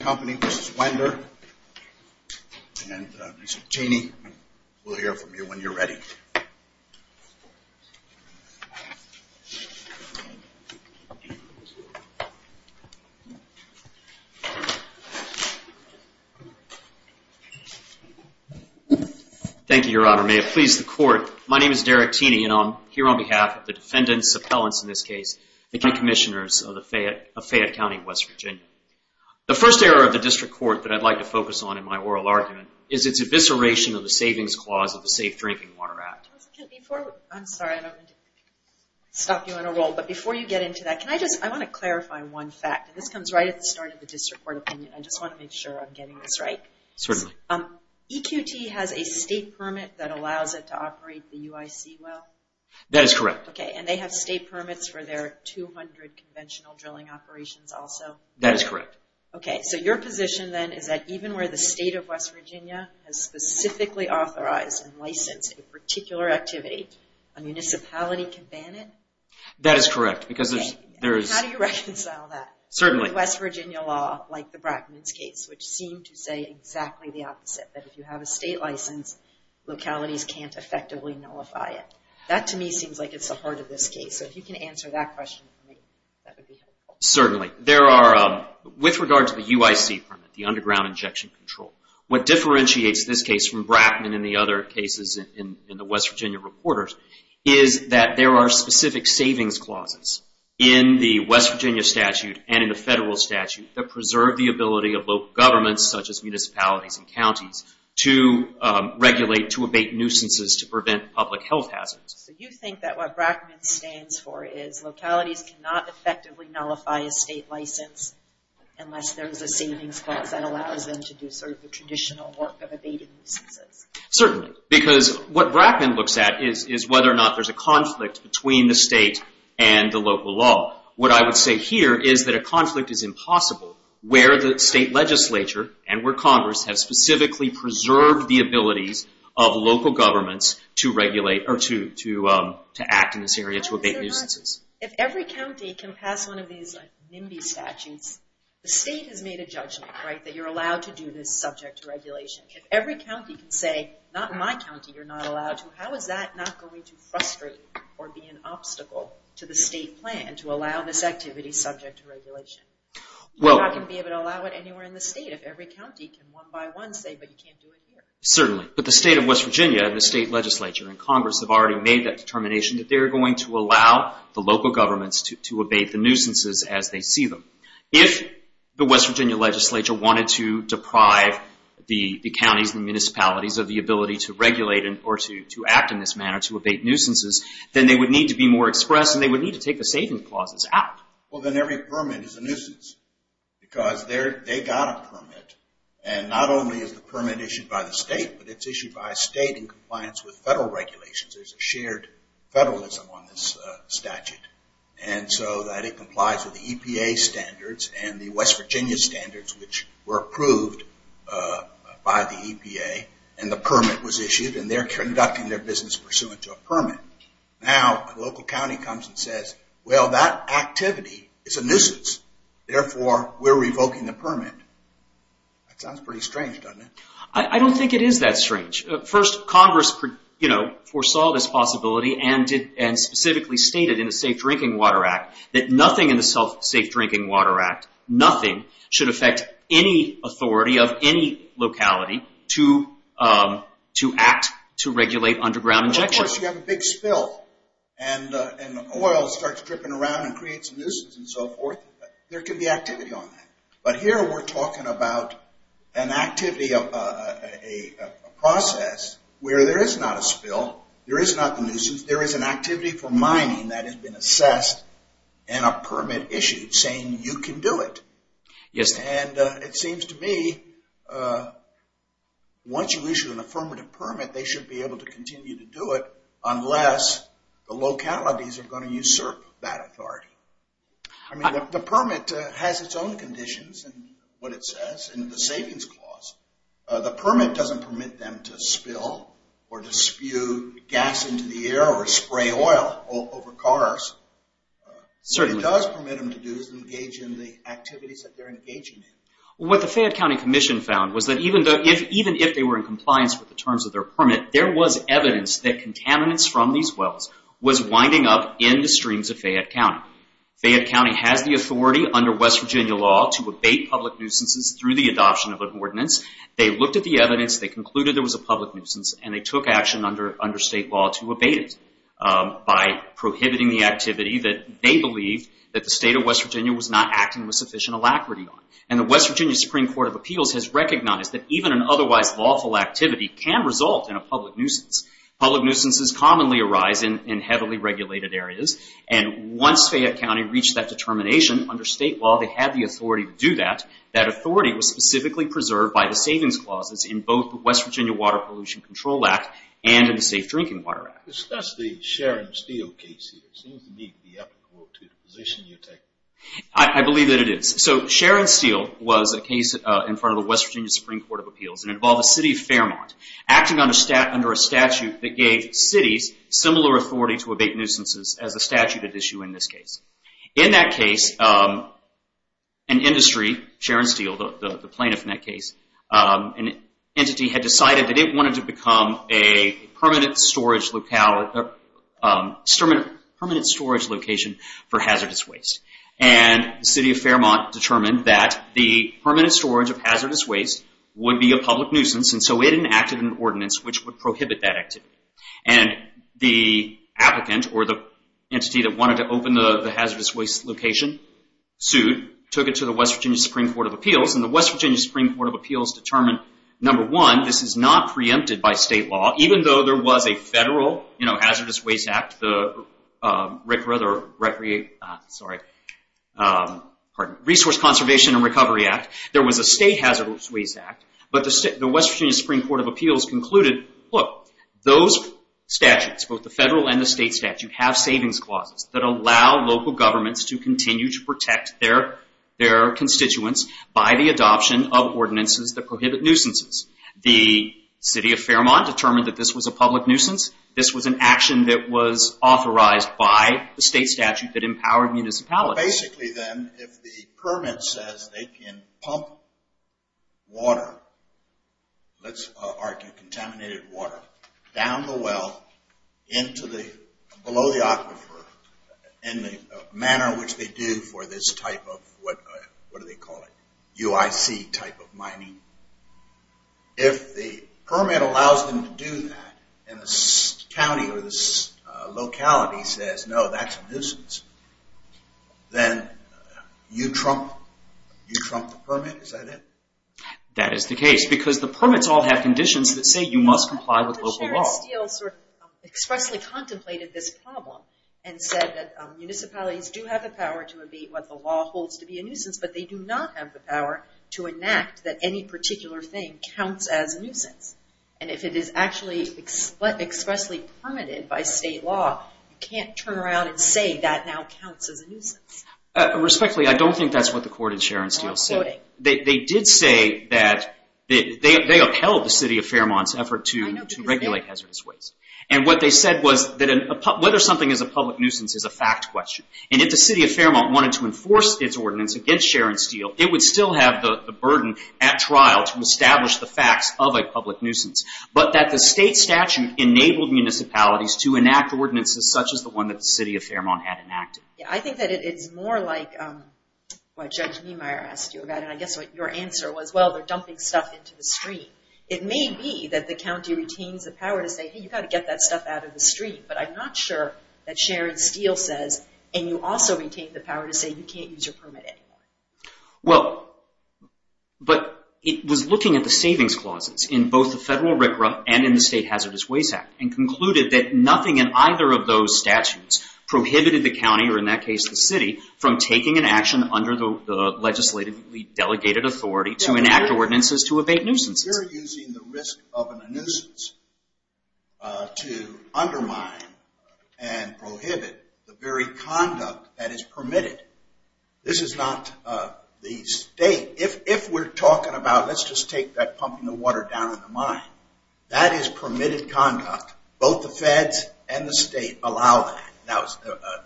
Mr. Tini, we'll hear from you when you're ready. Thank you your honor. May it please the court. My name is Derek Tini and I'm here on behalf of the defendants, appellants in this case, the key commissioners of Fayette County, West Virginia. The first error of the district court that I'd like to focus on in my oral argument is its evisceration of the savings clause of the Safe Drinking Water Act. I'm sorry, I don't mean to stop you on a roll, but before you get into that, I want to clarify one fact. This comes right at the start of the district court opinion. I just want to make sure I'm getting this right. Certainly. EQT has a state permit that allows it to operate the UIC well? That is correct. And they have state permits for their 200 conventional drilling operations also? That is correct. Okay, so your position then is that even where the state of West Virginia has specifically authorized and licensed a particular activity, a municipality can ban it? That is correct. How do you reconcile that with West Virginia law, like the Brackman's case, which seemed to say exactly the opposite, that if you have a state license, localities can't effectively nullify it. That, to me, seems like it's the heart of this case, so if you can answer that question for me, that would be helpful. Certainly. There are, with regard to the UIC permit, the underground injection control, what differentiates this case from Brackman and the other cases in the West Virginia reporters is that there are specific savings clauses in the West Virginia statute and in the federal statute that preserve the ability of local governments, such as municipalities and counties, to regulate, to abate nuisances, to prevent public health hazards. So you think that what Brackman stands for is localities cannot effectively nullify a state license unless there's a savings clause that allows them to do sort of the traditional work of abating nuisances? Certainly, because what Brackman looks at is whether or not there's a conflict between the state and the local law. What I would say here is that a conflict is impossible where the state legislature and where Congress have specifically preserved the abilities of local governments to regulate or to act in this area to abate nuisances. If every county can pass one of these NIMBY statutes, the state has made a judgment, right, that you're allowed to do this subject to regulation. If every county can say, not in my county, you're not allowed to, how is that not going to frustrate or be an obstacle to the state plan to allow this activity subject to regulation? You're not going to be able to allow it anywhere in the state if every county can one by one say, but you can't do it here. Certainly, but the state of West Virginia and the state legislature and Congress have already made that determination that they're going to allow the local governments to abate the nuisances as they see them. If the West Virginia legislature wanted to deprive the counties and municipalities of the ability to regulate or to act in this manner to abate nuisances, then they would need to be more express and they would need to take the savings clauses out. Well, then every permit is a nuisance because they got a permit and not only is the permit issued by the state, but it's issued by a state in compliance with federal regulations. There's a shared federalism on this statute and so that it complies with the EPA standards and the West Virginia standards, which were approved by the EPA and the permit was issued and they're conducting their business pursuant to a permit. Now, a local county comes and says, well, that activity is a nuisance. Therefore, we're revoking the permit. That sounds pretty strange, doesn't it? I don't think it is that strange. First, Congress foresaw this possibility and specifically stated in the Safe Drinking Water Act that nothing in the Safe Drinking Water Act, nothing should affect any authority of any locality to act to regulate underground injection. Of course, you have a big spill and oil starts dripping around and creates a nuisance and so forth. There can be activity on that, but here we're talking about an activity of a process where there is not a spill, there is not a nuisance, there is an activity for mining that has been assessed and a permit issued saying you can do it. Yes. And it seems to me once you issue an affirmative permit, they should be able to continue to do it unless the localities are going to usurp that authority. I mean, the permit has its own conditions and what it says in the savings clause. The permit doesn't permit them to spill or to spew gas into the air or spray oil over cars. Certainly. What it does permit them to do is engage in the activities that they're engaging in. What the Fayette County Commission found was that even if they were in compliance with the terms of their permit, there was evidence that contaminants from these wells was winding up in the streams of Fayette County. Fayette County has the authority under West Virginia law to abate public nuisances through the adoption of an ordinance. They looked at the evidence, they concluded there was a public nuisance, and they took action under state law to abate it by prohibiting the activity that they believed that the state of West Virginia was not acting with sufficient alacrity on. And the West Virginia Supreme Court of Appeals has recognized that even an otherwise lawful activity can result in a public nuisance. Public nuisances commonly arise in heavily regulated areas. And once Fayette County reached that determination under state law, they had the authority to do that. That authority was specifically preserved by the savings clauses in both the West Virginia Water Pollution Control Act and in the Safe Drinking Water Act. That's the Sharon Steele case here. It seems to me to be applicable to the position you take. I believe that it is. So Sharon Steele was a case in front of the West Virginia Supreme Court of Appeals. It involved the city of Fairmont acting under a statute that gave cities similar authority to abate nuisances as a statute at issue in this case. In that case, an industry, Sharon Steele, the plaintiff in that case, an entity had decided that it wanted to become a permanent storage location for hazardous waste. And the city of Fairmont determined that the permanent storage of hazardous waste would be a public nuisance. And so it enacted an ordinance which would prohibit that activity. And the applicant or the entity that wanted to open the hazardous waste location sued, took it to the West Virginia Supreme Court of Appeals. And the West Virginia Supreme Court of Appeals determined, number one, this is not preempted by state law. Even though there was a federal hazardous waste act, the Resource Conservation and Recovery Act, there was a state hazardous waste act. But the West Virginia Supreme Court of Appeals concluded, look, those statutes, both the federal and the state statute, have savings clauses that allow local governments to continue to protect their constituents by the adoption of ordinances that prohibit nuisances. The city of Fairmont determined that this was a public nuisance. This was an action that was authorized by the state statute that empowered municipalities. Basically then, if the permit says they can pump water, let's argue contaminated water, down the well, below the aquifer, in the manner which they do for this type of, what do they call it, UIC type of mining, if the permit allows them to do that and the county or the then you trump the permit. Is that it? That is the case, because the permits all have conditions that say you must comply with local law. But Sheriff Steele sort of expressly contemplated this problem and said that municipalities do have the power to abate what the law holds to be a nuisance, but they do not have the power to enact that any particular thing counts as a nuisance. And if it is actually expressly permitted by state law, you can't turn around and say that now counts as a nuisance. Respectfully, I don't think that's what the court in Sharon Steele said. They did say that they upheld the city of Fairmont's effort to regulate hazardous waste. And what they said was that whether something is a public nuisance is a fact question. And if the city of Fairmont wanted to enforce its ordinance against Sharon Steele, it would still have the burden at trial to establish the facts of a public nuisance. But that the state statute enabled municipalities to enact ordinances such as the one that the county had enacted. Yeah, I think that it's more like what Judge Niemeyer asked you about. And I guess what your answer was, well, they're dumping stuff into the stream. It may be that the county retains the power to say, hey, you've got to get that stuff out of the stream. But I'm not sure that Sharon Steele says, and you also retain the power to say, you can't use your permit anymore. Well, but it was looking at the savings clauses in both the federal RCRA and in the State statutes prohibited the county, or in that case the city, from taking an action under the legislatively delegated authority to enact ordinances to evade nuisances. We're using the risk of a nuisance to undermine and prohibit the very conduct that is permitted. This is not the state. If we're talking about, let's just take that pumping the water down in the mine. That is permitted conduct. Both the feds and the state allow that.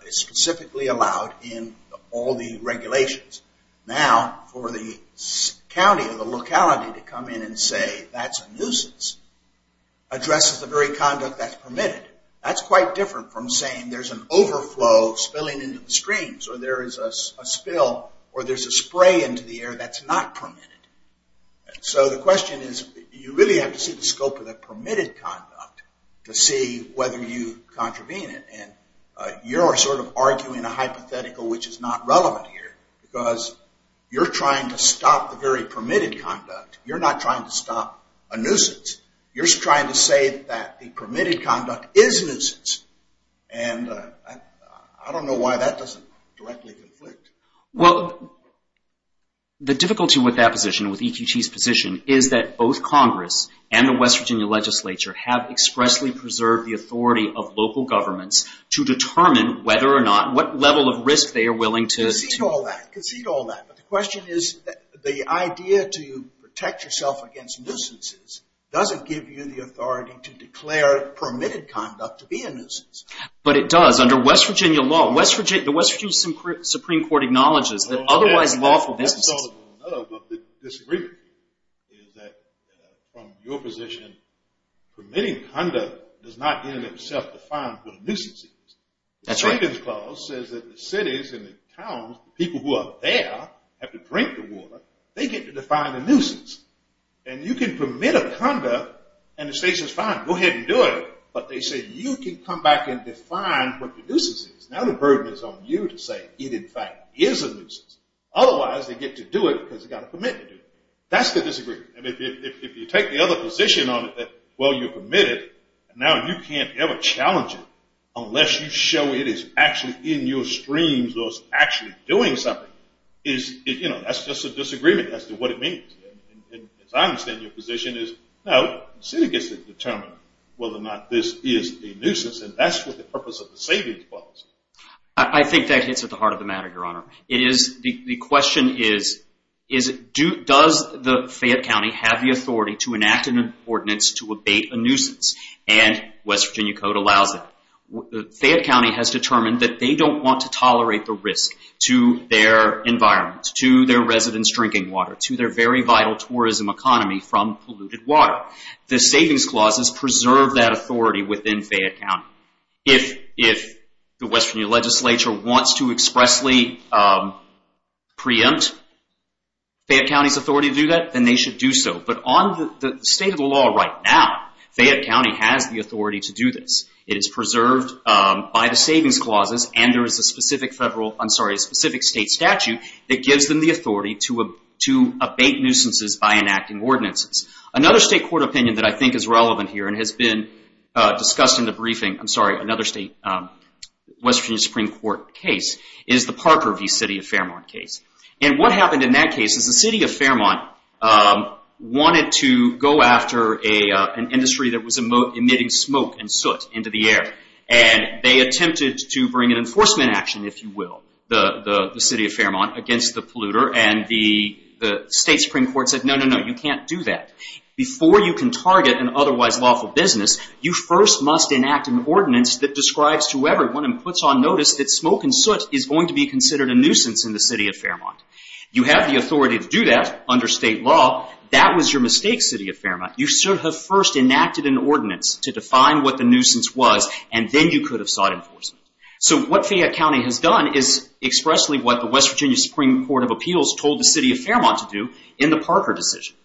It's specifically allowed in all the regulations. Now, for the county or the locality to come in and say that's a nuisance addresses the very conduct that's permitted. That's quite different from saying there's an overflow spilling into the streams or there is a spill or there's a spray into the air that's not permitted. So the question is, you really have to see the scope of the permitted conduct to see whether you contravene it. And you're sort of arguing a hypothetical which is not relevant here because you're trying to stop the very permitted conduct. You're not trying to stop a nuisance. You're trying to say that the permitted conduct is a nuisance. And I don't know why that doesn't directly conflict. Well, the difficulty with that position, with EQT's position, is that both Congress and the West Virginia legislature have expressly preserved the authority of local governments to determine whether or not, what level of risk they are willing to... Concede all that. Concede all that. But the question is, the idea to protect yourself against nuisances doesn't give you the authority to declare permitted conduct to be a nuisance. But it does. It does under West Virginia law. The West Virginia Supreme Court acknowledges that otherwise lawful businesses... That's all there is to know about the disagreement here is that from your position, permitting conduct does not in and of itself define what a nuisance is. That's right. The Stinkin's Clause says that the cities and the towns, the people who are there, have to drink the water. They get to define a nuisance. And you can permit a conduct and the state says, fine, go ahead and do it. But they say, you can come back and define what the nuisance is. Now the burden is on you to say it in fact is a nuisance. Otherwise, they get to do it because they've got a commitment to do it. That's the disagreement. If you take the other position on it that, well, you're permitted, and now you can't ever challenge it unless you show it is actually in your streams or is actually doing something, that's just a disagreement as to what it means. As I understand your position is, no, the city gets to determine whether or not this is a nuisance. And that's what the purpose of the savings policy is. I think that hits at the heart of the matter, Your Honor. The question is, does the Fayette County have the authority to enact an ordinance to abate a nuisance? And West Virginia Code allows it. Fayette County has determined that they don't want to tolerate the risk to their environment, to their residents' drinking water, to their very vital tourism economy from polluted water. The savings clauses preserve that authority within Fayette County. If the West Virginia legislature wants to expressly preempt Fayette County's authority to do that, then they should do so. But on the state of the law right now, Fayette County has the authority to do this. It is preserved by the savings clauses and there is a specific federal, I'm sorry, a specific state statute that gives them the authority to abate nuisances by enacting ordinances. Another state court opinion that I think is relevant here and has been discussed in the briefing, I'm sorry, another state West Virginia Supreme Court case is the Parker v. City of Fairmont case. And what happened in that case is the City of Fairmont wanted to go after an industry that was emitting smoke and soot into the air. And they attempted to bring an enforcement action, if you will, the City of Fairmont against the polluter. And the state Supreme Court said, no, no, no, you can't do that. Before you can target an otherwise lawful business, you first must enact an ordinance that describes to everyone and puts on notice that smoke and soot is going to be considered a nuisance in the City of Fairmont. You have the authority to do that under state law. That was your mistake, City of Fairmont. You should have first enacted an ordinance to define what the nuisance was, and then you could have sought enforcement. So what Fayette County has done is expressly what the West Virginia Supreme Court of Appeals told the City of Fairmont to do in the Parker decision.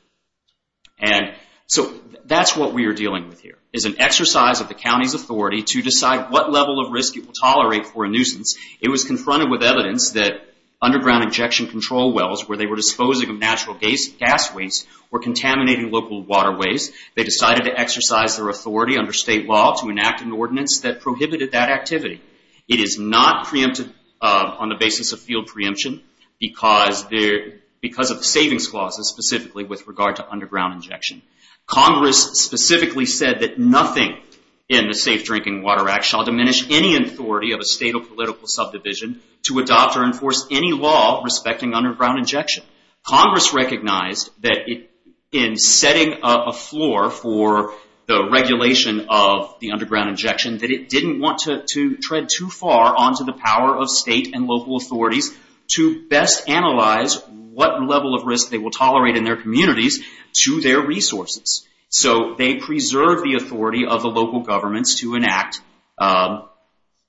And so that's what we are dealing with here, is an exercise of the county's authority to decide what level of risk it will tolerate for a nuisance. It was confronted with evidence that underground injection control wells where they were They decided to exercise their authority under state law to enact an ordinance that prohibited that activity. It is not preempted on the basis of field preemption because of the savings clauses specifically with regard to underground injection. Congress specifically said that nothing in the Safe Drinking Water Act shall diminish any authority of a state or political subdivision to adopt or enforce any law respecting underground injection. Congress recognized that in setting up a floor for the regulation of the underground injection that it didn't want to tread too far onto the power of state and local authorities to best analyze what level of risk they will tolerate in their communities to their resources. So they preserved the authority of the local governments to enact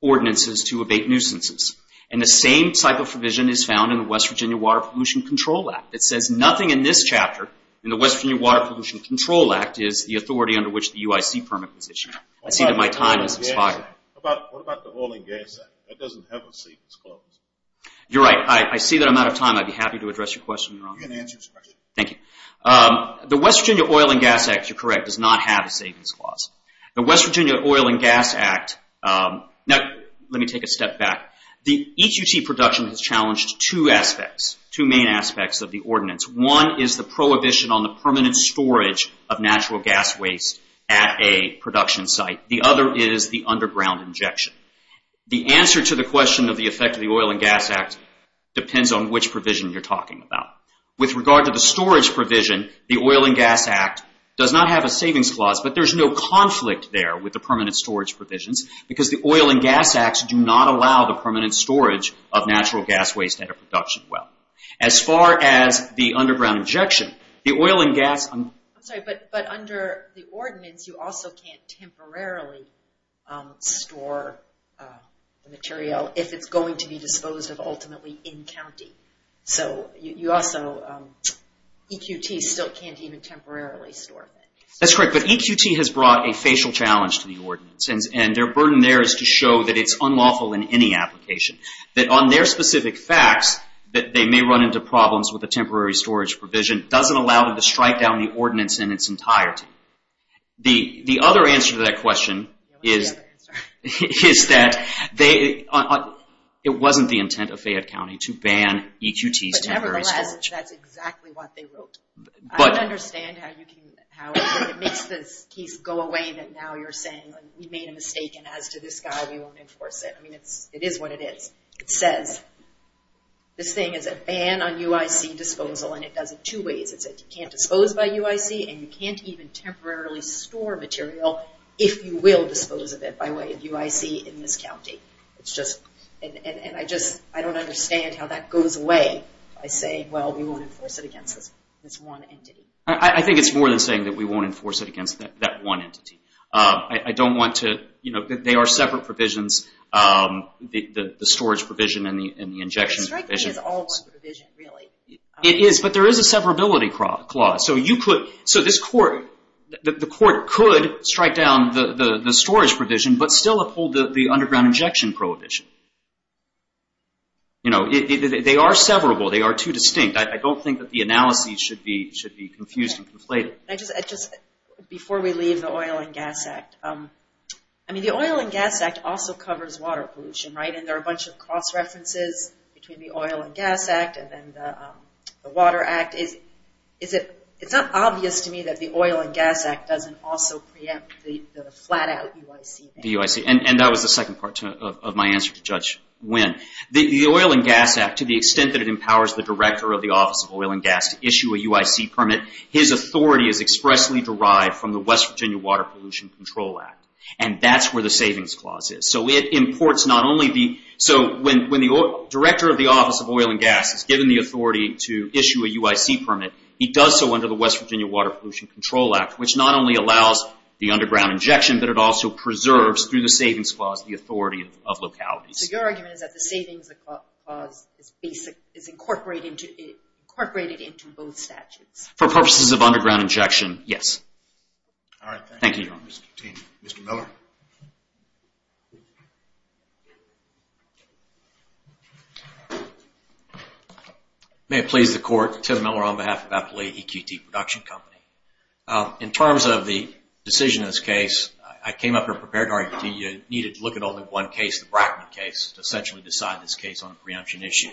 ordinances to abate nuisances. And the same type of provision is found in the West Virginia Water Pollution Control Act. It says nothing in this chapter in the West Virginia Water Pollution Control Act is the authority under which the UIC permit was issued. I see that my time has expired. What about the Oil and Gas Act? That doesn't have a savings clause. You're right. I see that I'm out of time. I'd be happy to address your question, Your Honor. You can answer his question. Thank you. The West Virginia Oil and Gas Act, you're correct, does not have a savings clause. The West Virginia Oil and Gas Act, now let me take a step back. The EQT production has challenged two aspects, two main aspects of the ordinance. One is the prohibition on the permanent storage of natural gas waste at a production site. The other is the underground injection. The answer to the question of the effect of the Oil and Gas Act depends on which provision you're talking about. With regard to the storage provision, the Oil and Gas Act does not have a savings clause, but there's no conflict there with the permanent storage provisions because the Oil and Gas Acts do not allow the permanent storage of natural gas waste at a production well. As far as the underground injection, the Oil and Gas— I'm sorry, but under the ordinance, you also can't temporarily store the material if it's going to be disposed of ultimately in county. So you also—EQT still can't even temporarily store things. That's correct, but EQT has brought a facial challenge to the ordinance, and their burden there is to show that it's unlawful in any application. That on their specific facts that they may run into problems with a temporary storage provision doesn't allow them to strike down the ordinance in its entirety. The other answer to that question is that it wasn't the intent of Fayette County to ban EQT's temporary storage. But nevertheless, that's exactly what they wrote. I don't understand how it makes this case go away that now you're saying, we made a mistake, and as to this guy, we won't enforce it. I mean, it is what it is. It says this thing is a ban on UIC disposal, and it does it two ways. It says you can't dispose by UIC, and you can't even temporarily store material if you will dispose of it by way of UIC in this county. It's just—and I just—I don't understand how that goes away by saying, well, we won't enforce it against this one entity. I think it's more than saying that we won't enforce it against that one entity. I don't want to—they are separate provisions, the storage provision and the injection provision. Striking is all one provision, really. It is, but there is a severability clause. So this court—the court could strike down the storage provision but still uphold the underground injection prohibition. You know, they are severable. They are too distinct. I don't think that the analysis should be confused and conflated. Just before we leave the Oil and Gas Act, I mean, the Oil and Gas Act also covers water pollution, right? And there are a bunch of cross-references between the Oil and Gas Act and then the Water Act. Is it—it's not obvious to me that the Oil and Gas Act doesn't also preempt the flat-out UIC ban. And that was the second part of my answer to Judge Wynn. The Oil and Gas Act, to the extent that it empowers the director of the Office of Oil and Gas to issue a UIC permit, his authority is expressly derived from the West Virginia Water Pollution Control Act. And that's where the savings clause is. So it imports not only the—so when the director of the Office of Oil and Gas is given the authority to issue a UIC permit, he does so under the West Virginia Water Pollution Control Act, which not only allows the underground injection, but it also preserves, through the savings clause, the authority of localities. So your argument is that the savings clause is basic—is incorporated into both statutes? For purposes of underground injection, yes. All right, thank you. Thank you, Your Honor. Mr. Miller. May it please the Court, Tim Miller on behalf of Appalachia EQT Production Company. In terms of the decision in this case, I came up here prepared to argue that you needed to look at only one case, the Brackman case, to essentially decide this case on a preemption issue.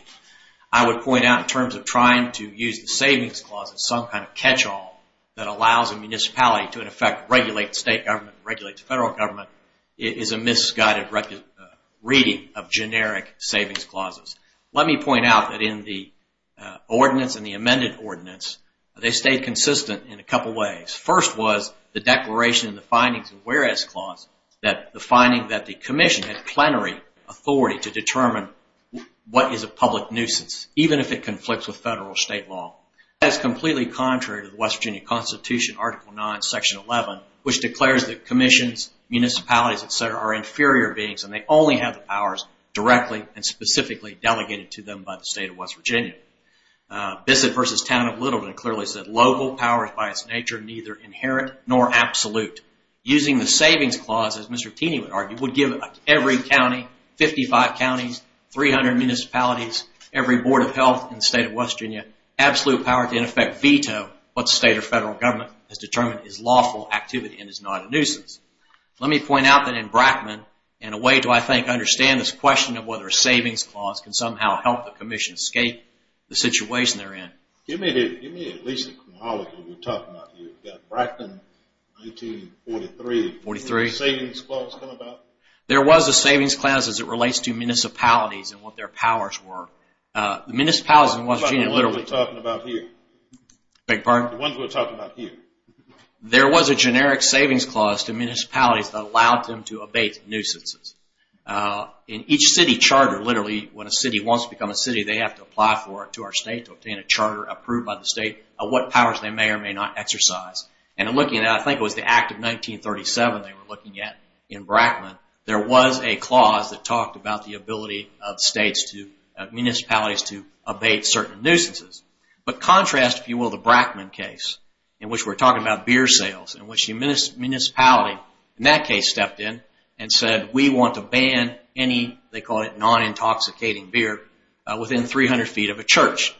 I would point out, in terms of trying to use the savings clause as some kind of catch-all that allows a municipality to, in effect, regulate the state government and regulate the federal government, it is a misguided reading of generic savings clauses. Let me point out that in the ordinance and the amended ordinance, they stayed consistent in a couple ways. First was the declaration and the findings of the whereas clause, that the finding that the commission had plenary authority to determine what is a public nuisance, even if it conflicts with federal or state law. That is completely contrary to the West Virginia Constitution, Article 9, Section 11, which declares that commissions, municipalities, et cetera, are inferior beings, and they only have the powers directly and specifically delegated to them by the state of West Virginia. Bissett v. Town of Littleton clearly said, Local powers by its nature neither inherent nor absolute. Using the savings clause, as Mr. Keeney would argue, would give every county, 55 counties, 300 municipalities, every board of health in the state of West Virginia, absolute power to, in effect, veto what state or federal government has determined is lawful activity and is not a nuisance. Let me point out that in Brackman, in a way to, I think, understand this question of whether a savings clause can somehow help the commission escape the situation they're in. Give me at least a chronology of what we're talking about here. We've got Brackman, 1943. Did a savings clause come about? There was a savings clause as it relates to municipalities and what their powers were. The municipalities in West Virginia literally- What are we talking about here? Beg your pardon? The ones we're talking about here. There was a generic savings clause to municipalities that allowed them to abate nuisances. In each city charter, literally, when a city wants to become a city, they have to apply for it to our state to obtain a charter approved by the state of what powers they may or may not exercise. I think it was the Act of 1937 they were looking at in Brackman. There was a clause that talked about the ability of municipalities to abate certain nuisances. But contrast, if you will, the Brackman case in which we're talking about beer sales in which the municipality in that case stepped in and said, we want to ban any, they call it non-intoxicating beer, within 300 feet of a church.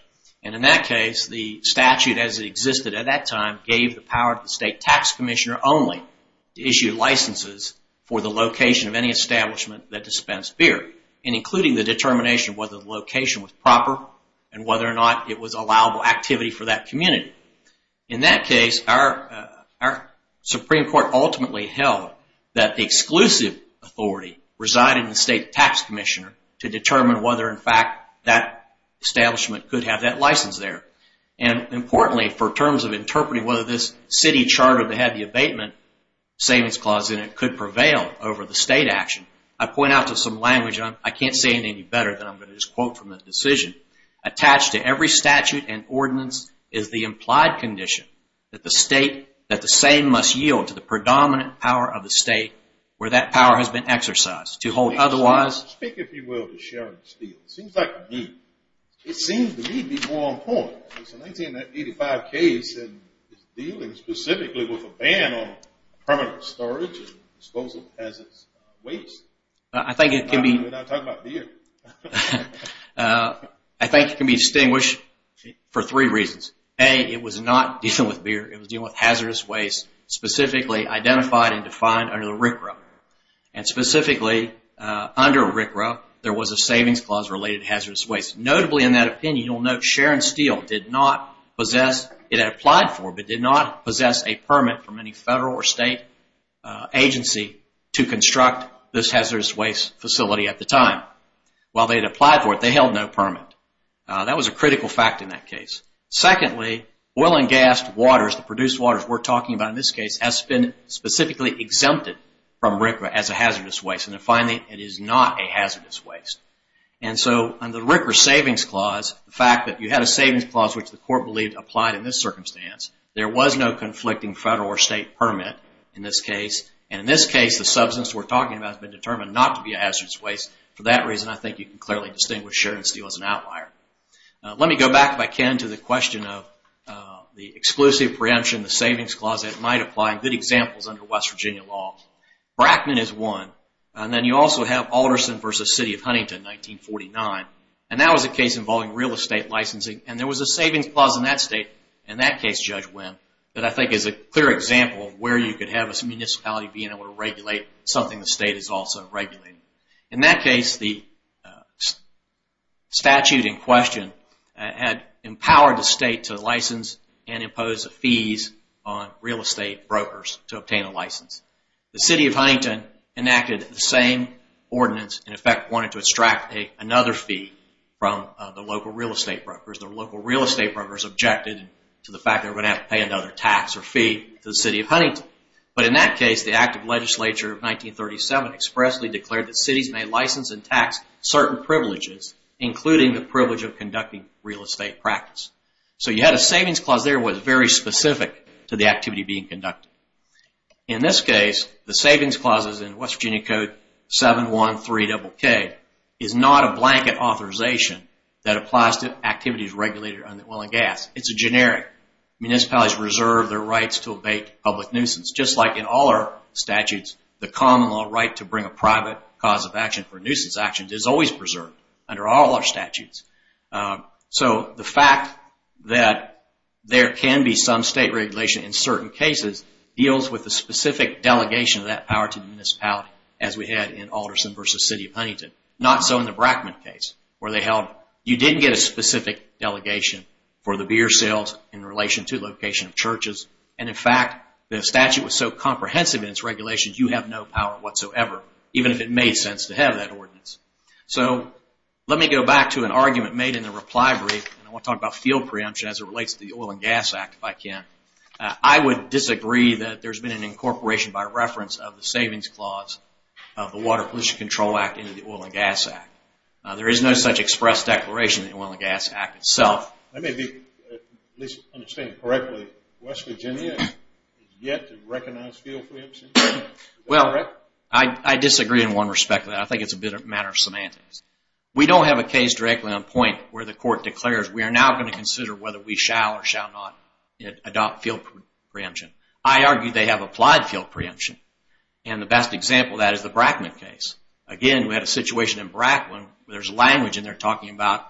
In that case, the statute as it existed at that time gave the power to the state tax commissioner only to issue licenses for the location of any establishment that dispensed beer and including the determination whether the location was proper and whether or not it was allowable activity for that community. In that case, our Supreme Court ultimately held that the exclusive authority resided in the state tax commissioner to determine whether in fact that establishment could have that license there. Importantly, for terms of interpreting whether this city charter that had the abatement savings clause in it could prevail over the state action, I point out to some language, and I can't say it any better than I'm going to just quote from the decision. Attached to every statute and ordinance is the implied condition that the state, that the same must yield to the predominant power of the state where that power has been exercised. To hold otherwise. Speak, if you will, to Sharon Steele. It seems like to me, it seems to me to be more important. It's an 1985 case and it's dealing specifically with a ban on permanent storage and disposal as it's waste. I think it can be... We're not talking about beer. I think it can be distinguished for three reasons. A, it was not dealing with beer. It was dealing with hazardous waste specifically identified and defined under the RCRA. And specifically, under RCRA, there was a savings clause related to hazardous waste. Notably in that opinion, you'll note Sharon Steele did not possess, it had applied for, but did not possess a permit from any federal or state agency to construct this hazardous waste facility at the time. While they had applied for it, they held no permit. That was a critical fact in that case. Secondly, oil and gas waters, the produced waters we're talking about in this case, has been specifically exempted from RCRA as a hazardous waste. And finally, it is not a hazardous waste. And so under RCRA's savings clause, the fact that you had a savings clause which the court believed applied in this circumstance, there was no conflicting federal or state permit in this case. And in this case, the substance we're talking about has been determined not to be a hazardous waste. For that reason, I think you can clearly distinguish Sharon Steele as an outlier. Let me go back, if I can, to the question of the exclusive preemption, the savings clause that might apply, good examples under West Virginia law. Brackman is one. And then you also have Alderson v. City of Huntington, 1949. And that was a case involving real estate licensing. And there was a savings clause in that state. In that case, Judge Winn, that I think is a clear example of where you could have a municipality being able to regulate something the state is also regulating. In that case, the statute in question had empowered the state to license and impose fees on real estate brokers to obtain a license. The City of Huntington enacted the same ordinance, in effect wanted to extract another fee from the local real estate brokers. The local real estate brokers objected to the fact they were going to have to pay another tax or fee to the City of Huntington. But in that case, the Act of Legislature of 1937 expressly declared that cities may license and tax certain privileges, including the privilege of conducting real estate practice. So you had a savings clause there that was very specific to the activity being conducted. In this case, the savings clauses in West Virginia Code 713-KK is not a blanket authorization that applies to activities regulated under oil and gas. It's a generic. Municipalities reserve their rights to abate public nuisance. Just like in all our statutes, the common law right to bring a private cause of action So the fact that there can be some state regulation in certain cases deals with the specific delegation of that power to the municipality, as we had in Alderson v. City of Huntington. Not so in the Brackman case, where they held you didn't get a specific delegation for the beer sales in relation to location of churches. And in fact, the statute was so comprehensive in its regulations, you have no power whatsoever, even if it made sense to have that ordinance. So let me go back to an argument made in the reply brief. I want to talk about fuel preemption as it relates to the Oil and Gas Act, if I can. I would disagree that there's been an incorporation by reference of the savings clause of the Water Pollution Control Act into the Oil and Gas Act. There is no such express declaration in the Oil and Gas Act itself. Let me at least understand correctly. West Virginia is yet to recognize fuel preemption? Well, I disagree in one respect. I think it's a matter of semantics. We don't have a case directly on point where the court declares, we are now going to consider whether we shall or shall not adopt fuel preemption. I argue they have applied fuel preemption. And the best example of that is the Brackman case. Again, we had a situation in Brackman where there's language in there talking about,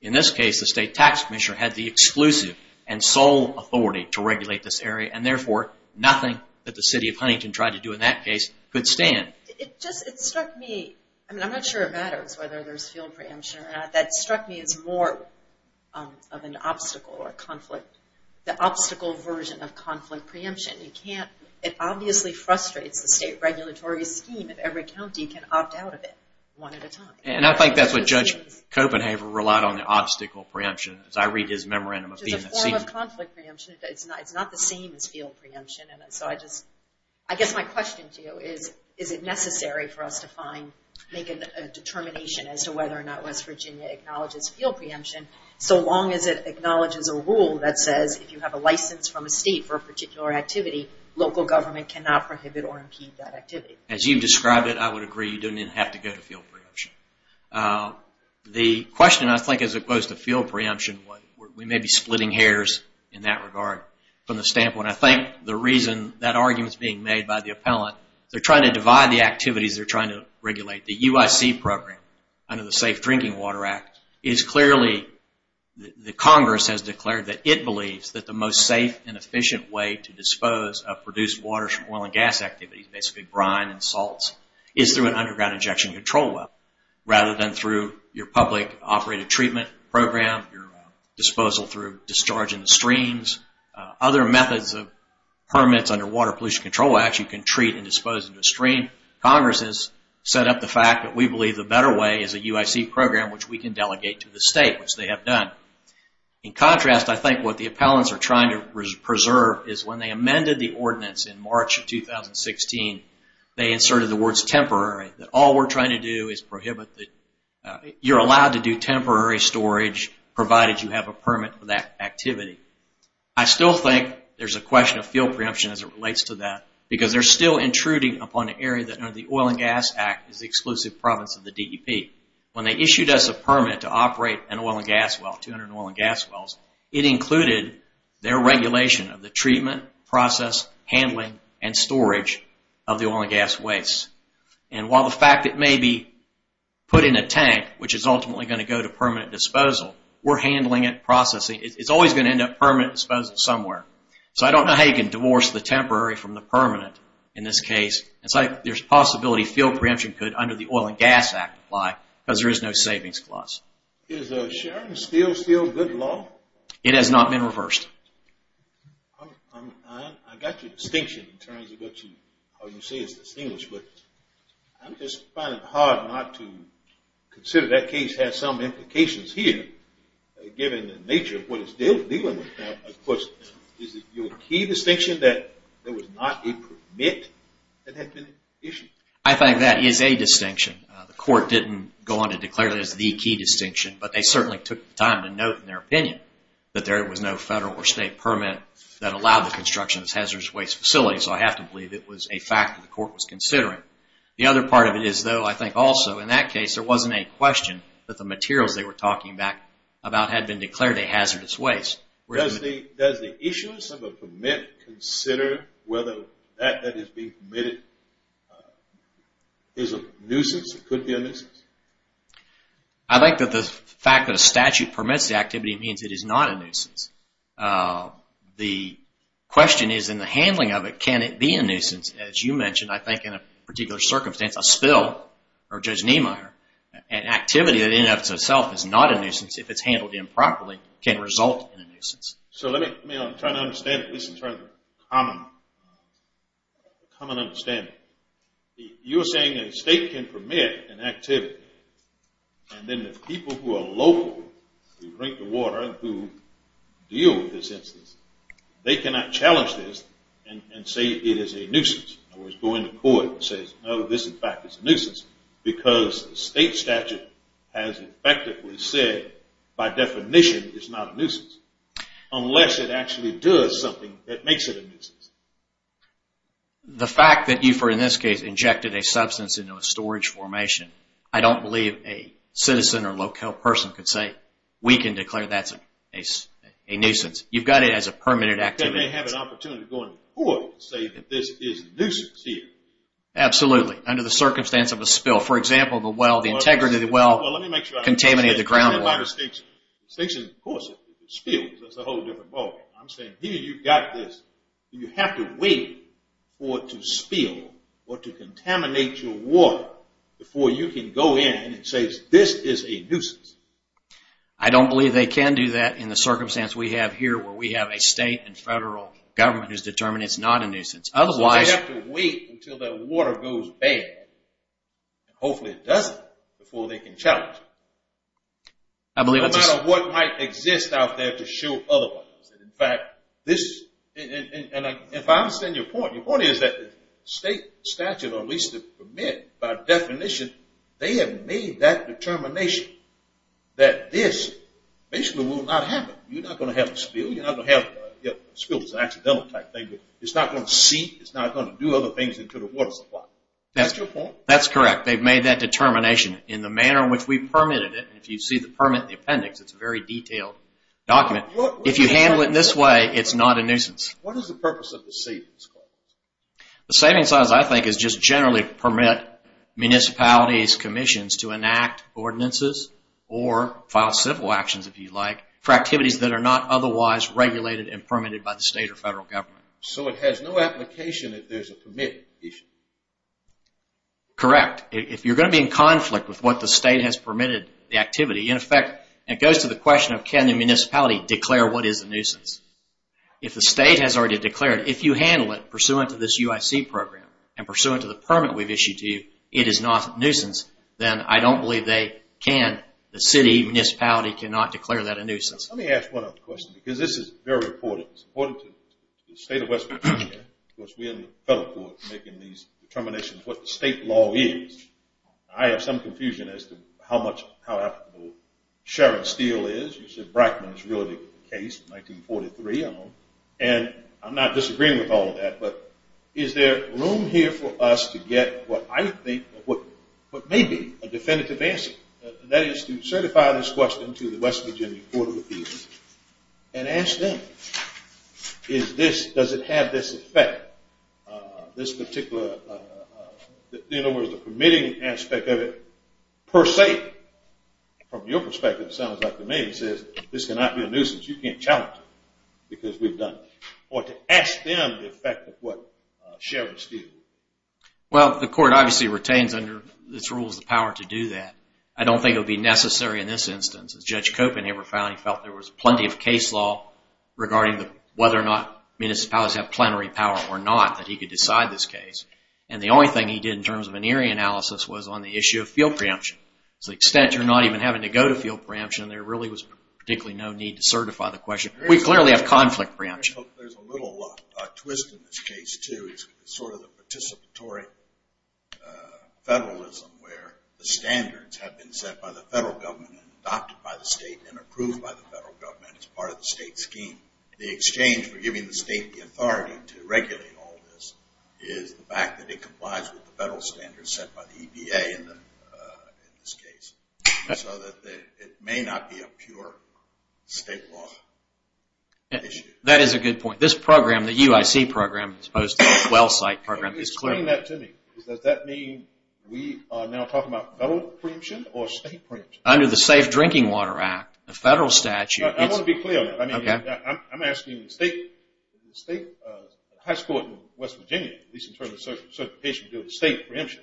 in this case, the State Tax Commissioner had the exclusive and sole authority to regulate this area, and therefore, nothing that the City of Huntington tried to do in that case could stand. It just struck me. I'm not sure it matters whether there's fuel preemption or not. That struck me as more of an obstacle or conflict, the obstacle version of conflict preemption. It obviously frustrates the state regulatory scheme if every county can opt out of it one at a time. And I think that's what Judge Copenhaver relied on, the obstacle preemption. As I read his memorandum of being a senior. It's a form of conflict preemption. It's not the same as fuel preemption. I guess my question to you is, is it necessary for us to make a determination as to whether or not West Virginia acknowledges fuel preemption, so long as it acknowledges a rule that says if you have a license from a state for a particular activity, local government cannot prohibit or impede that activity? As you've described it, I would agree. You don't even have to go to fuel preemption. The question, I think, as opposed to fuel preemption, we may be splitting hairs in that regard. I think the reason that argument is being made by the appellant, they're trying to divide the activities they're trying to regulate. The UIC program under the Safe Drinking Water Act is clearly, the Congress has declared that it believes that the most safe and efficient way to dispose of produced water from oil and gas activities, basically brine and salts, is through an underground injection control well. Rather than through your public operated treatment program, your disposal through discharging the streams. Other methods of permits under Water Pollution Control Act you can treat and dispose into a stream. Congress has set up the fact that we believe the better way is a UIC program which we can delegate to the state, which they have done. In contrast, I think what the appellants are trying to preserve is when they amended the ordinance in March of 2016, they inserted the words temporary. That all we're trying to do is prohibit the... provided you have a permit for that activity. I still think there's a question of fuel preemption as it relates to that, because they're still intruding upon an area that under the Oil and Gas Act is the exclusive province of the DEP. When they issued us a permit to operate an oil and gas well, 200 oil and gas wells, it included their regulation of the treatment, process, handling, and storage of the oil and gas waste. And while the fact it may be put in a tank, which is ultimately going to go to permanent disposal, we're handling it, processing. It's always going to end up permanent disposal somewhere. So I don't know how you can divorce the temporary from the permanent in this case. It's like there's a possibility fuel preemption could under the Oil and Gas Act apply because there is no savings clause. Is sharing steel still good law? It has not been reversed. I got your distinction in terms of what you... how you say it's distinguished, but I'm just finding it hard not to consider that case has some implications here, given the nature of what is still dealing with that. Of course, is it your key distinction that there was not a permit that had been issued? I think that is a distinction. The court didn't go on to declare that as the key distinction, but they certainly took the time to note in their opinion that there was no federal or state permit that allowed the construction of this hazardous waste facility. So I have to believe it was a fact that the court was considering. The other part of it is, though, I think also, in that case there wasn't a question that the materials they were talking about had been declared a hazardous waste. Does the issuance of a permit consider whether that that is being permitted is a nuisance or could be a nuisance? means it is not a nuisance. The question is in the handling of it, can it be a nuisance? As you mentioned, I think in a particular circumstance, a spill or Judge Niemeyer, an activity that in and of itself is not a nuisance if it's handled improperly can result in a nuisance. So let me try to understand this in terms of common understanding. You're saying that a state can permit an activity and then the people who are local who drink the water, who deal with this instance, they cannot challenge this and say it is a nuisance. In other words, go into court and say, no, this in fact is a nuisance because the state statute has effectively said by definition it's not a nuisance unless it actually does something that makes it a nuisance. The fact that you, in this case, injected a substance into a storage formation, I don't believe a citizen or local person could say we can declare that's a nuisance. You've got it as a permitted activity. They may have an opportunity to go into court and say that this is a nuisance here. Absolutely, under the circumstance of a spill. For example, the well, the integrity of the well contaminated the groundwater. Well, let me make sure I understand that. By distinction, of course, it's a spill. That's a whole different ballgame. I'm saying here you've got this. You have to wait for it to spill or to contaminate your water before you can go in and say, this is a nuisance. I don't believe they can do that in the circumstance we have here where we have a state and federal government who's determined it's not a nuisance. They have to wait until that water goes bad, and hopefully it doesn't, before they can challenge it. No matter what might exist out there to show otherwise. In fact, if I understand your point, your point is that the state statute or at least the permit, by definition, they have made that determination that this basically will not happen. You're not going to have a spill. A spill is an accidental type thing. It's not going to seep. It's not going to do other things into the water supply. That's correct. They've made that determination in the manner in which we permitted it. If you see the permit, the appendix, it's a very detailed document. If you handle it in this way, it's not a nuisance. What is the purpose of the savings clause? The savings clause, I think, is just generally to permit municipalities, commissions to enact ordinances or file civil actions, if you like, for activities that are not otherwise regulated and permitted by the state or federal government. So it has no application if there's a permit issue? Correct. If you're going to be in conflict with what the state has permitted, the activity, in effect, it goes to the question of can the municipality declare what is a nuisance? If the state has already declared, if you handle it pursuant to this UIC program and pursuant to the permit we've issued to you, it is not a nuisance, then I don't believe they can, the city, municipality, cannot declare that a nuisance. Let me ask one other question because this is very important. It's important to the state of West Virginia. Of course, we and the federal courts are making these determinations as to what the state law is. I have some confusion as to how much how applicable Sharon Steele is. You said Brackman is really the case in 1943. And I'm not disagreeing with all of that, but is there room here for us to get what I think what may be a definitive answer? That is to certify this question to the West Virginia Court of Appeals and ask them does it have this effect, that this particular in other words the permitting aspect of it per se from your perspective sounds like to me it says this cannot be a nuisance, you can't challenge it because we've done it. Or to ask them the effect of what Sharon Steele Well, the court obviously retains under its rules the power to do that. I don't think it would be necessary in this instance. As Judge Copin ever found, he felt there was plenty of case law regarding whether or not municipalities have plenary power or not that he could decide this case. And the only thing he did in terms of an eerie analysis was on the issue of field preemption. To the extent you're not even having to go to field preemption there really was particularly no need to certify the question. We clearly have conflict preemption. There's a little twist in this case too. It's sort of the participatory federalism where the standards have been set by the federal government and adopted by the state and approved by the federal government as part of the state scheme. The exchange for giving the state the authority to regulate all this is the fact that it complies with the federal standards set by the EPA in this case. So that it may not be a pure state law issue. That is a good point. This program, the UIC program as opposed to the well site program is clearly... Explain that to me. Does that mean we are now talking about federal preemption or state preemption? Under the Safe Drinking Water Act, the federal statute I want to be clear on that. I'm asking the state high school in West Virginia at least in terms of certification to do with state preemption.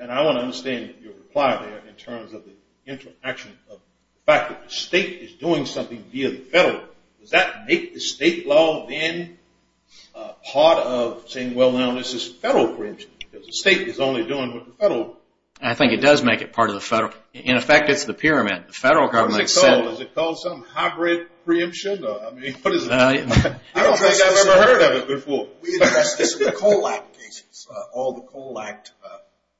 And I want to understand your reply there in terms of the interaction of the fact that the state is doing something via the federal. Does that make the state law then part of saying well now this is federal preemption because the state is only doing what the federal... I think it does make it part of the federal. In effect it's the pyramid. What is it called? Is it called some hybrid preemption? I don't think I've ever heard of it before. We address this in the Coal Act cases. All the Coal Act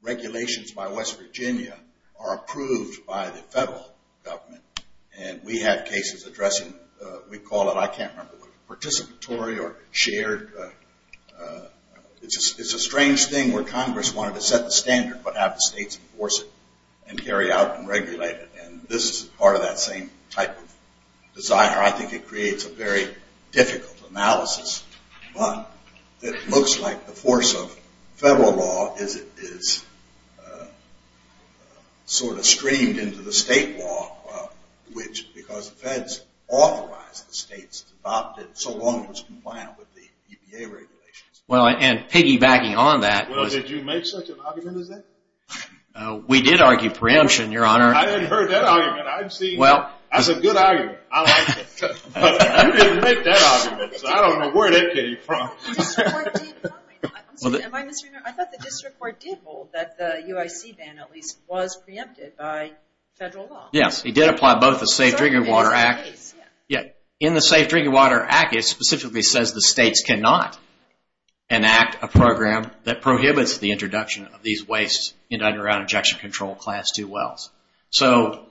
regulations by West Virginia are approved by the federal government. And we have cases addressing we call it, I can't remember, participatory or shared. It's a strange thing where Congress wanted to set the standard but have the states enforce it and carry out and regulate it. This is part of that same type of desire. I think it creates a very difficult analysis but it looks like the force of federal law is sort of streamed into the state law which because the feds authorized the states to adopt it so long it was compliant with the EPA regulations. Well and piggybacking on that Well did you make such an argument as that? We did argue preemption, your honor. I hadn't heard that argument. I've seen, that's a good argument. I like it. But you didn't make that argument. So I don't know where that came from. I thought the district court did hold that the UIC ban at least was preempted by federal law. Yes, it did apply both the Safe Drinking Water Act In the Safe Drinking Water Act it specifically says the states cannot enact a program that enacts injection control class 2 wells. So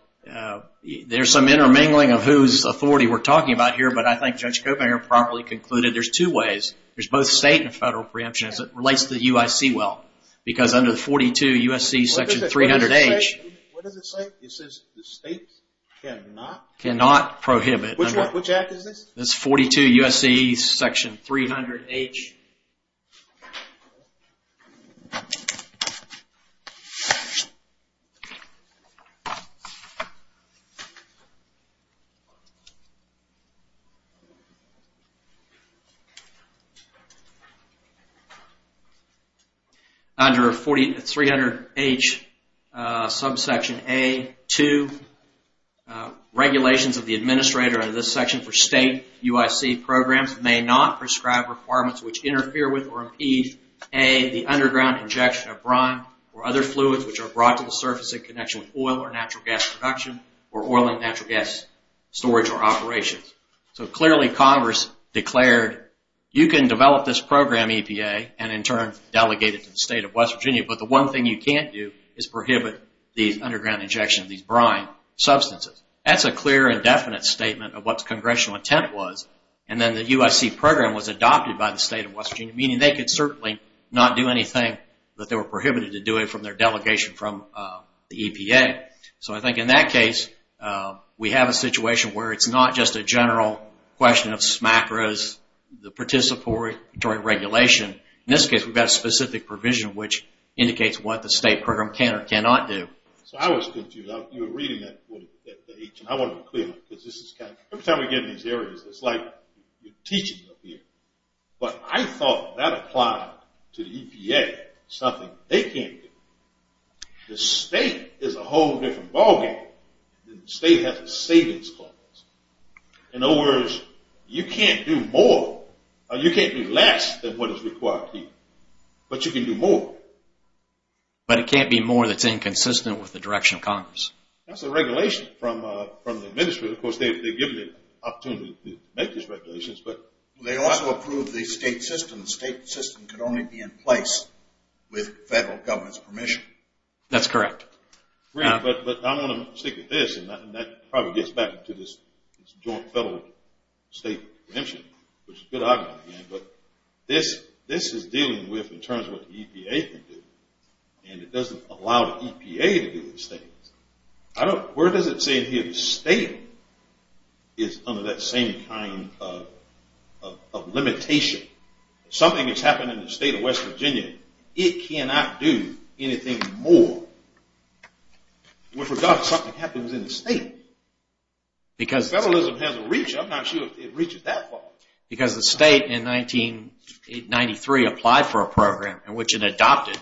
there's some intermingling of who's authority we're talking about here but I think Judge Kobinger probably concluded there's two ways. There's both state and federal preemption as it relates to the UIC well. Because under 42 USC section 300H What does it say? It says the states cannot Cannot prohibit Which act is this? It's 42 USC section 300H Under 300H subsection A 2 Regulations of the administrator under this section for state UIC programs may not prescribe requirements which interfere with or impede A, the underground injection of brine or other fluids which are brought to the surface in connection with oil or natural gas production or oil and natural gas storage or operations. So clearly Congress declared you can develop this program EPA and in turn delegate it to the state of West Virginia but the one thing you can't do is prohibit the underground injection of these brine substances. That's a clear and definite statement of what Congressional intent was and then the USC program was adopted by the state of West Virginia meaning they could certainly not do anything but they were prohibited to do it from their delegation from the EPA. So I think in that case we have a situation where it's not just a general question of SMAC or the participatory regulation. In this case we've got a specific provision which indicates what the state program can or cannot do. So I was confused. You were reading that I want to be clear because this is kind of every time we get in these areas it's like you're teaching up here. But I thought that applied to the EPA. It's something they can't do. The state is a whole different ball game. The state has a savings clause. In other words you can't do more or you can't do less than what is required here but you can do more. But it can't be more that's inconsistent with the direction of Congress. That's a regulation from the administration. Of course they've given the opportunity to make these regulations but they also approve the state system. The state system can only be in place with federal government's permission. That's correct. But I want to stick with this and that probably gets back to this joint federal state exemption which is good argument again but this is dealing with in terms of what the EPA can do and it doesn't allow the EPA to do these things. Where does it say here the state is under that same kind of limitation? Something that's happened in the state of West Virginia, it cannot do anything more with regard to something that happens in the state. Federalism has a reach. I'm not sure it reaches that far. Because the state in 1993 applied for a program in which it adopted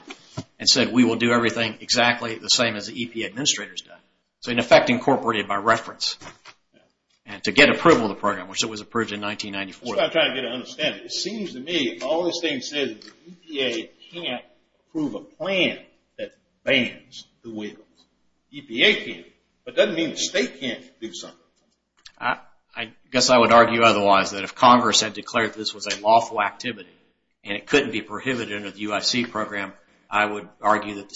and said we will do everything exactly the same as the EPA administrators do. So in effect incorporated by reference. To get approval of the program which it was approved in 1994. That's what I'm trying to get an understanding of. It seems to me all this thing says is EPA can't approve a plan that bans the wheel. EPA can't. But that doesn't mean the state can't do something. I guess I would argue otherwise that if Congress had declared this was a lawful activity and it couldn't be prohibited under the UIC program, I would argue that the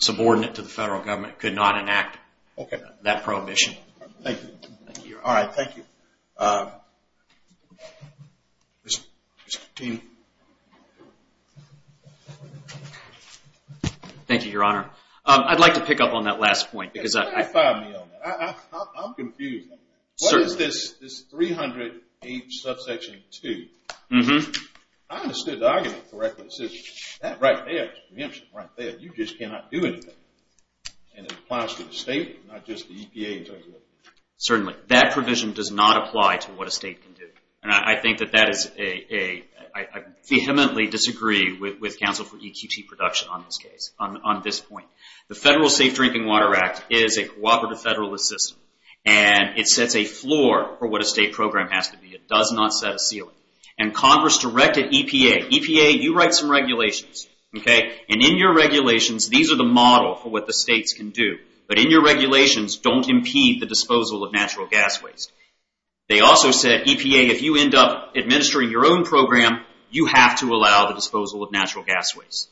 subordinate to the federal government could not enact that prohibition. Thank you. Thank you your honor. I'd like to pick up on that last point. I'm confused. What is this 300H subsection 2? I understood the argument correctly. It says that right there. You just cannot do anything. It applies to the state, not just the EPA. Certainly. That provision does not apply to what a state can do. I think that that is a I vehemently disagree with counsel for EQT production on this case. On this point. The federal Safe Drinking Water Act is a cooperative federalist system. It sets a floor for what a state program has to be. It does not set a ceiling. Congress directed EPA. EPA, you write some regulations. In your regulations, these are the model for what the states can do. In your regulations, don't impede the disposal of natural gas waste. They also said, EPA, if you end up administering your own program, you have to allow the disposal of natural gas waste.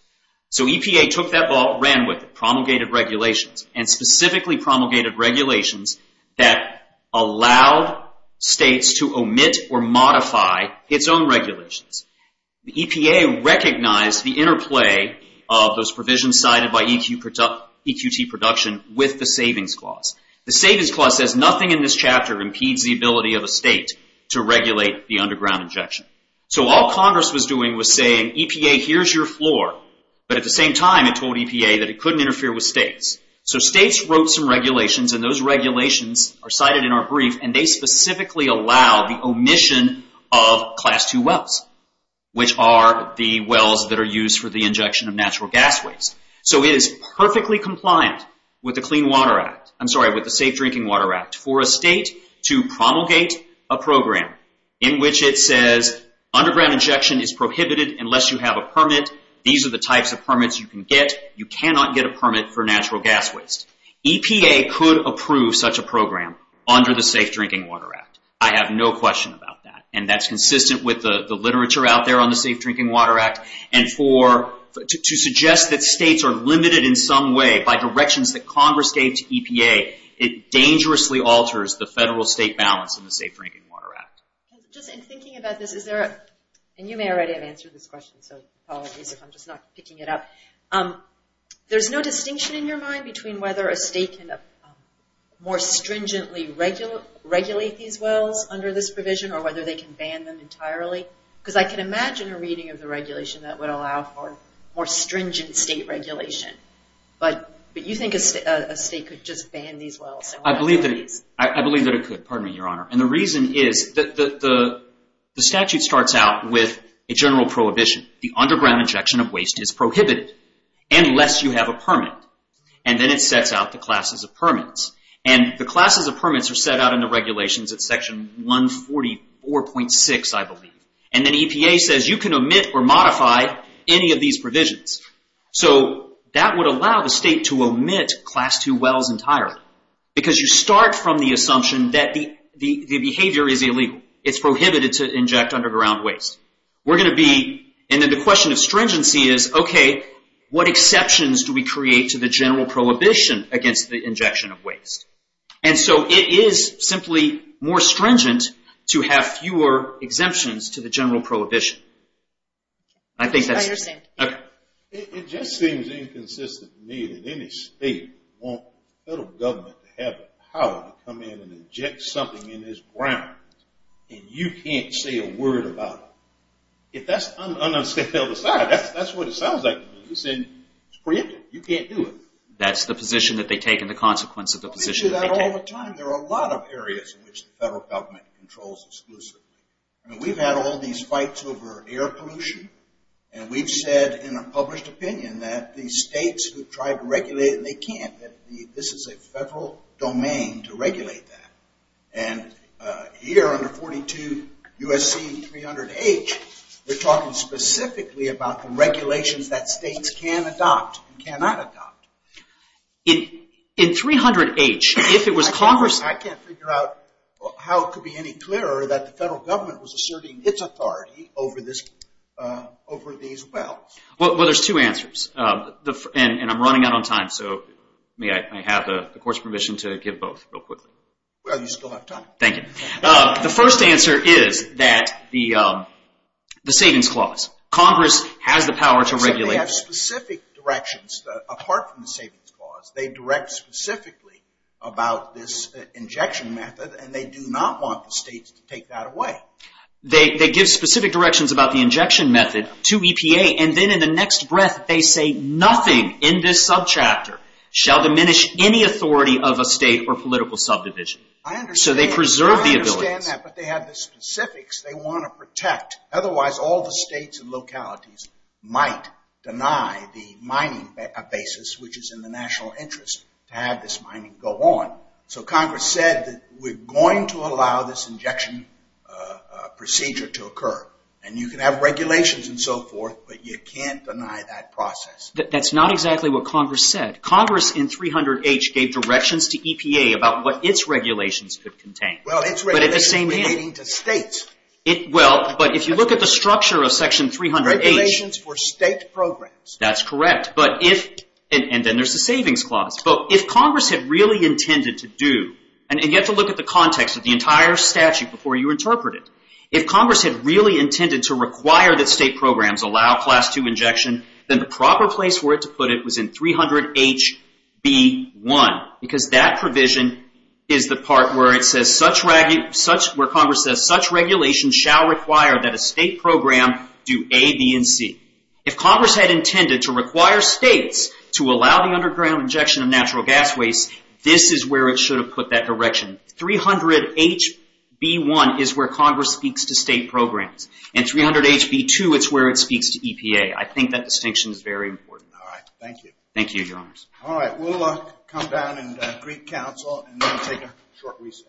EPA took that ball and ran with it. Promulgated regulations and specifically promulgated regulations that allowed states to omit or modify its own regulations. The EPA recognized the interplay of those provisions cited by EQT production with the Savings Clause. The Savings Clause says nothing in this chapter impedes the ability of a state to regulate the underground injection. All Congress was doing was saying, EPA, here's your floor. At the same time, it told EPA that it couldn't interfere with states. States wrote some regulations and those regulations are cited in our brief and they specifically allow the omission of Class II wells, which are the wells that are used for the injection of natural gas waste. It is perfectly compliant with the Safe Drinking Water Act for a state to promulgate a program in which it says underground injection is prohibited unless you have a permit. These are the types of permits you can get. You cannot get a permit for natural gas waste. EPA could approve such a program under the Safe Drinking Water Act. I have no question about that. That's consistent with the literature out there on the Safe Drinking Water Act. To suggest that states are limited in some way by directions that Congress gave to EPA, it dangerously alters the federal-state balance in the Safe Drinking Water Act. In thinking about this, you may already have answered this question, so apologies if I'm just not picking it up. There's no distinction in your mind between whether a state can more stringently regulate these wells under this provision or whether they can ban them entirely. I can imagine a reading of the regulation that would allow for more stringent state regulation. Do you think a state could just ban these wells? I believe that it could. The reason is the statute starts out with a general prohibition. The underground injection of waste is prohibited unless you have a permit. Then it sets out the classes of permits. The classes of permits are set out in the regulations at Section 144.6, I believe. Then EPA says, you can omit or modify any of these provisions. That would allow the state to omit Class II wells entirely. You start from the assumption that the behavior is illegal. It's prohibited to inject underground waste. The question of stringency is, what exceptions do we create to the general prohibition against the injection of waste? It is simply more stringent to have fewer exemptions to the general prohibition. I think that's it. It just seems inconsistent to me that any state would want federal government to have the power to come in and inject something in this ground and you can't say a word about it. If that's un-unscathed, that's what it sounds like. It's prohibited. You can't do it. That's the position that they take and the consequence of the position that they take. There are a lot of areas in which the federal government controls exclusively. We've had all these fights over air pollution and we've said in a published opinion that the states who try to regulate it, they can't. This is a federal domain to regulate that. Here under 42 USC 300H we're talking specifically about the regulations that states can adopt and cannot adopt. In 300H if it was Congress... I can't figure out how it could be any clearer that the federal government was asserting its authority over this over these wells. There's two answers and I'm running out of time so may I have the court's permission to give both real quickly? Well you still have time. The first answer is that the savings clause. Congress has the power to regulate. They have specific directions apart from the savings clause. They direct specifically about this injection method and they do not want the states to take that away. They give specific directions about the injection method to EPA and then in the next breath they say nothing in this subchapter shall diminish any authority of a state or political subdivision. So they preserve the ability. I understand that but they have the specifics they want to protect. Otherwise all the states and localities might deny the mining basis which is in the national interest to have this mining go on. So Congress said that we're going to allow this injection procedure to occur and you can have regulations and so forth but you can't deny that process. That's not exactly what Congress said. Congress in 300H gave directions to EPA about what its regulations could contain. But at the same time if you look at the structure of section 300H that's correct and then there's the savings clause. If Congress had really intended to do and you have to look at the context of the entire statute before you interpret it. If Congress had really intended to require that state programs allow class 2 injection then the proper place for it to put it was in 300HB1 because that provision is the part where it says such regulation shall require that a state program do A, B, and C. If Congress had intended to require states to allow the underground injection of natural gas waste this is where it should have put that direction. 300HB1 is where Congress speaks to state programs. And 300HB2 is where it speaks to EPA. I think that distinction is very important. Alright, thank you. Thank you, your honors. Alright, we'll come down and greet counsel and then take a short recess.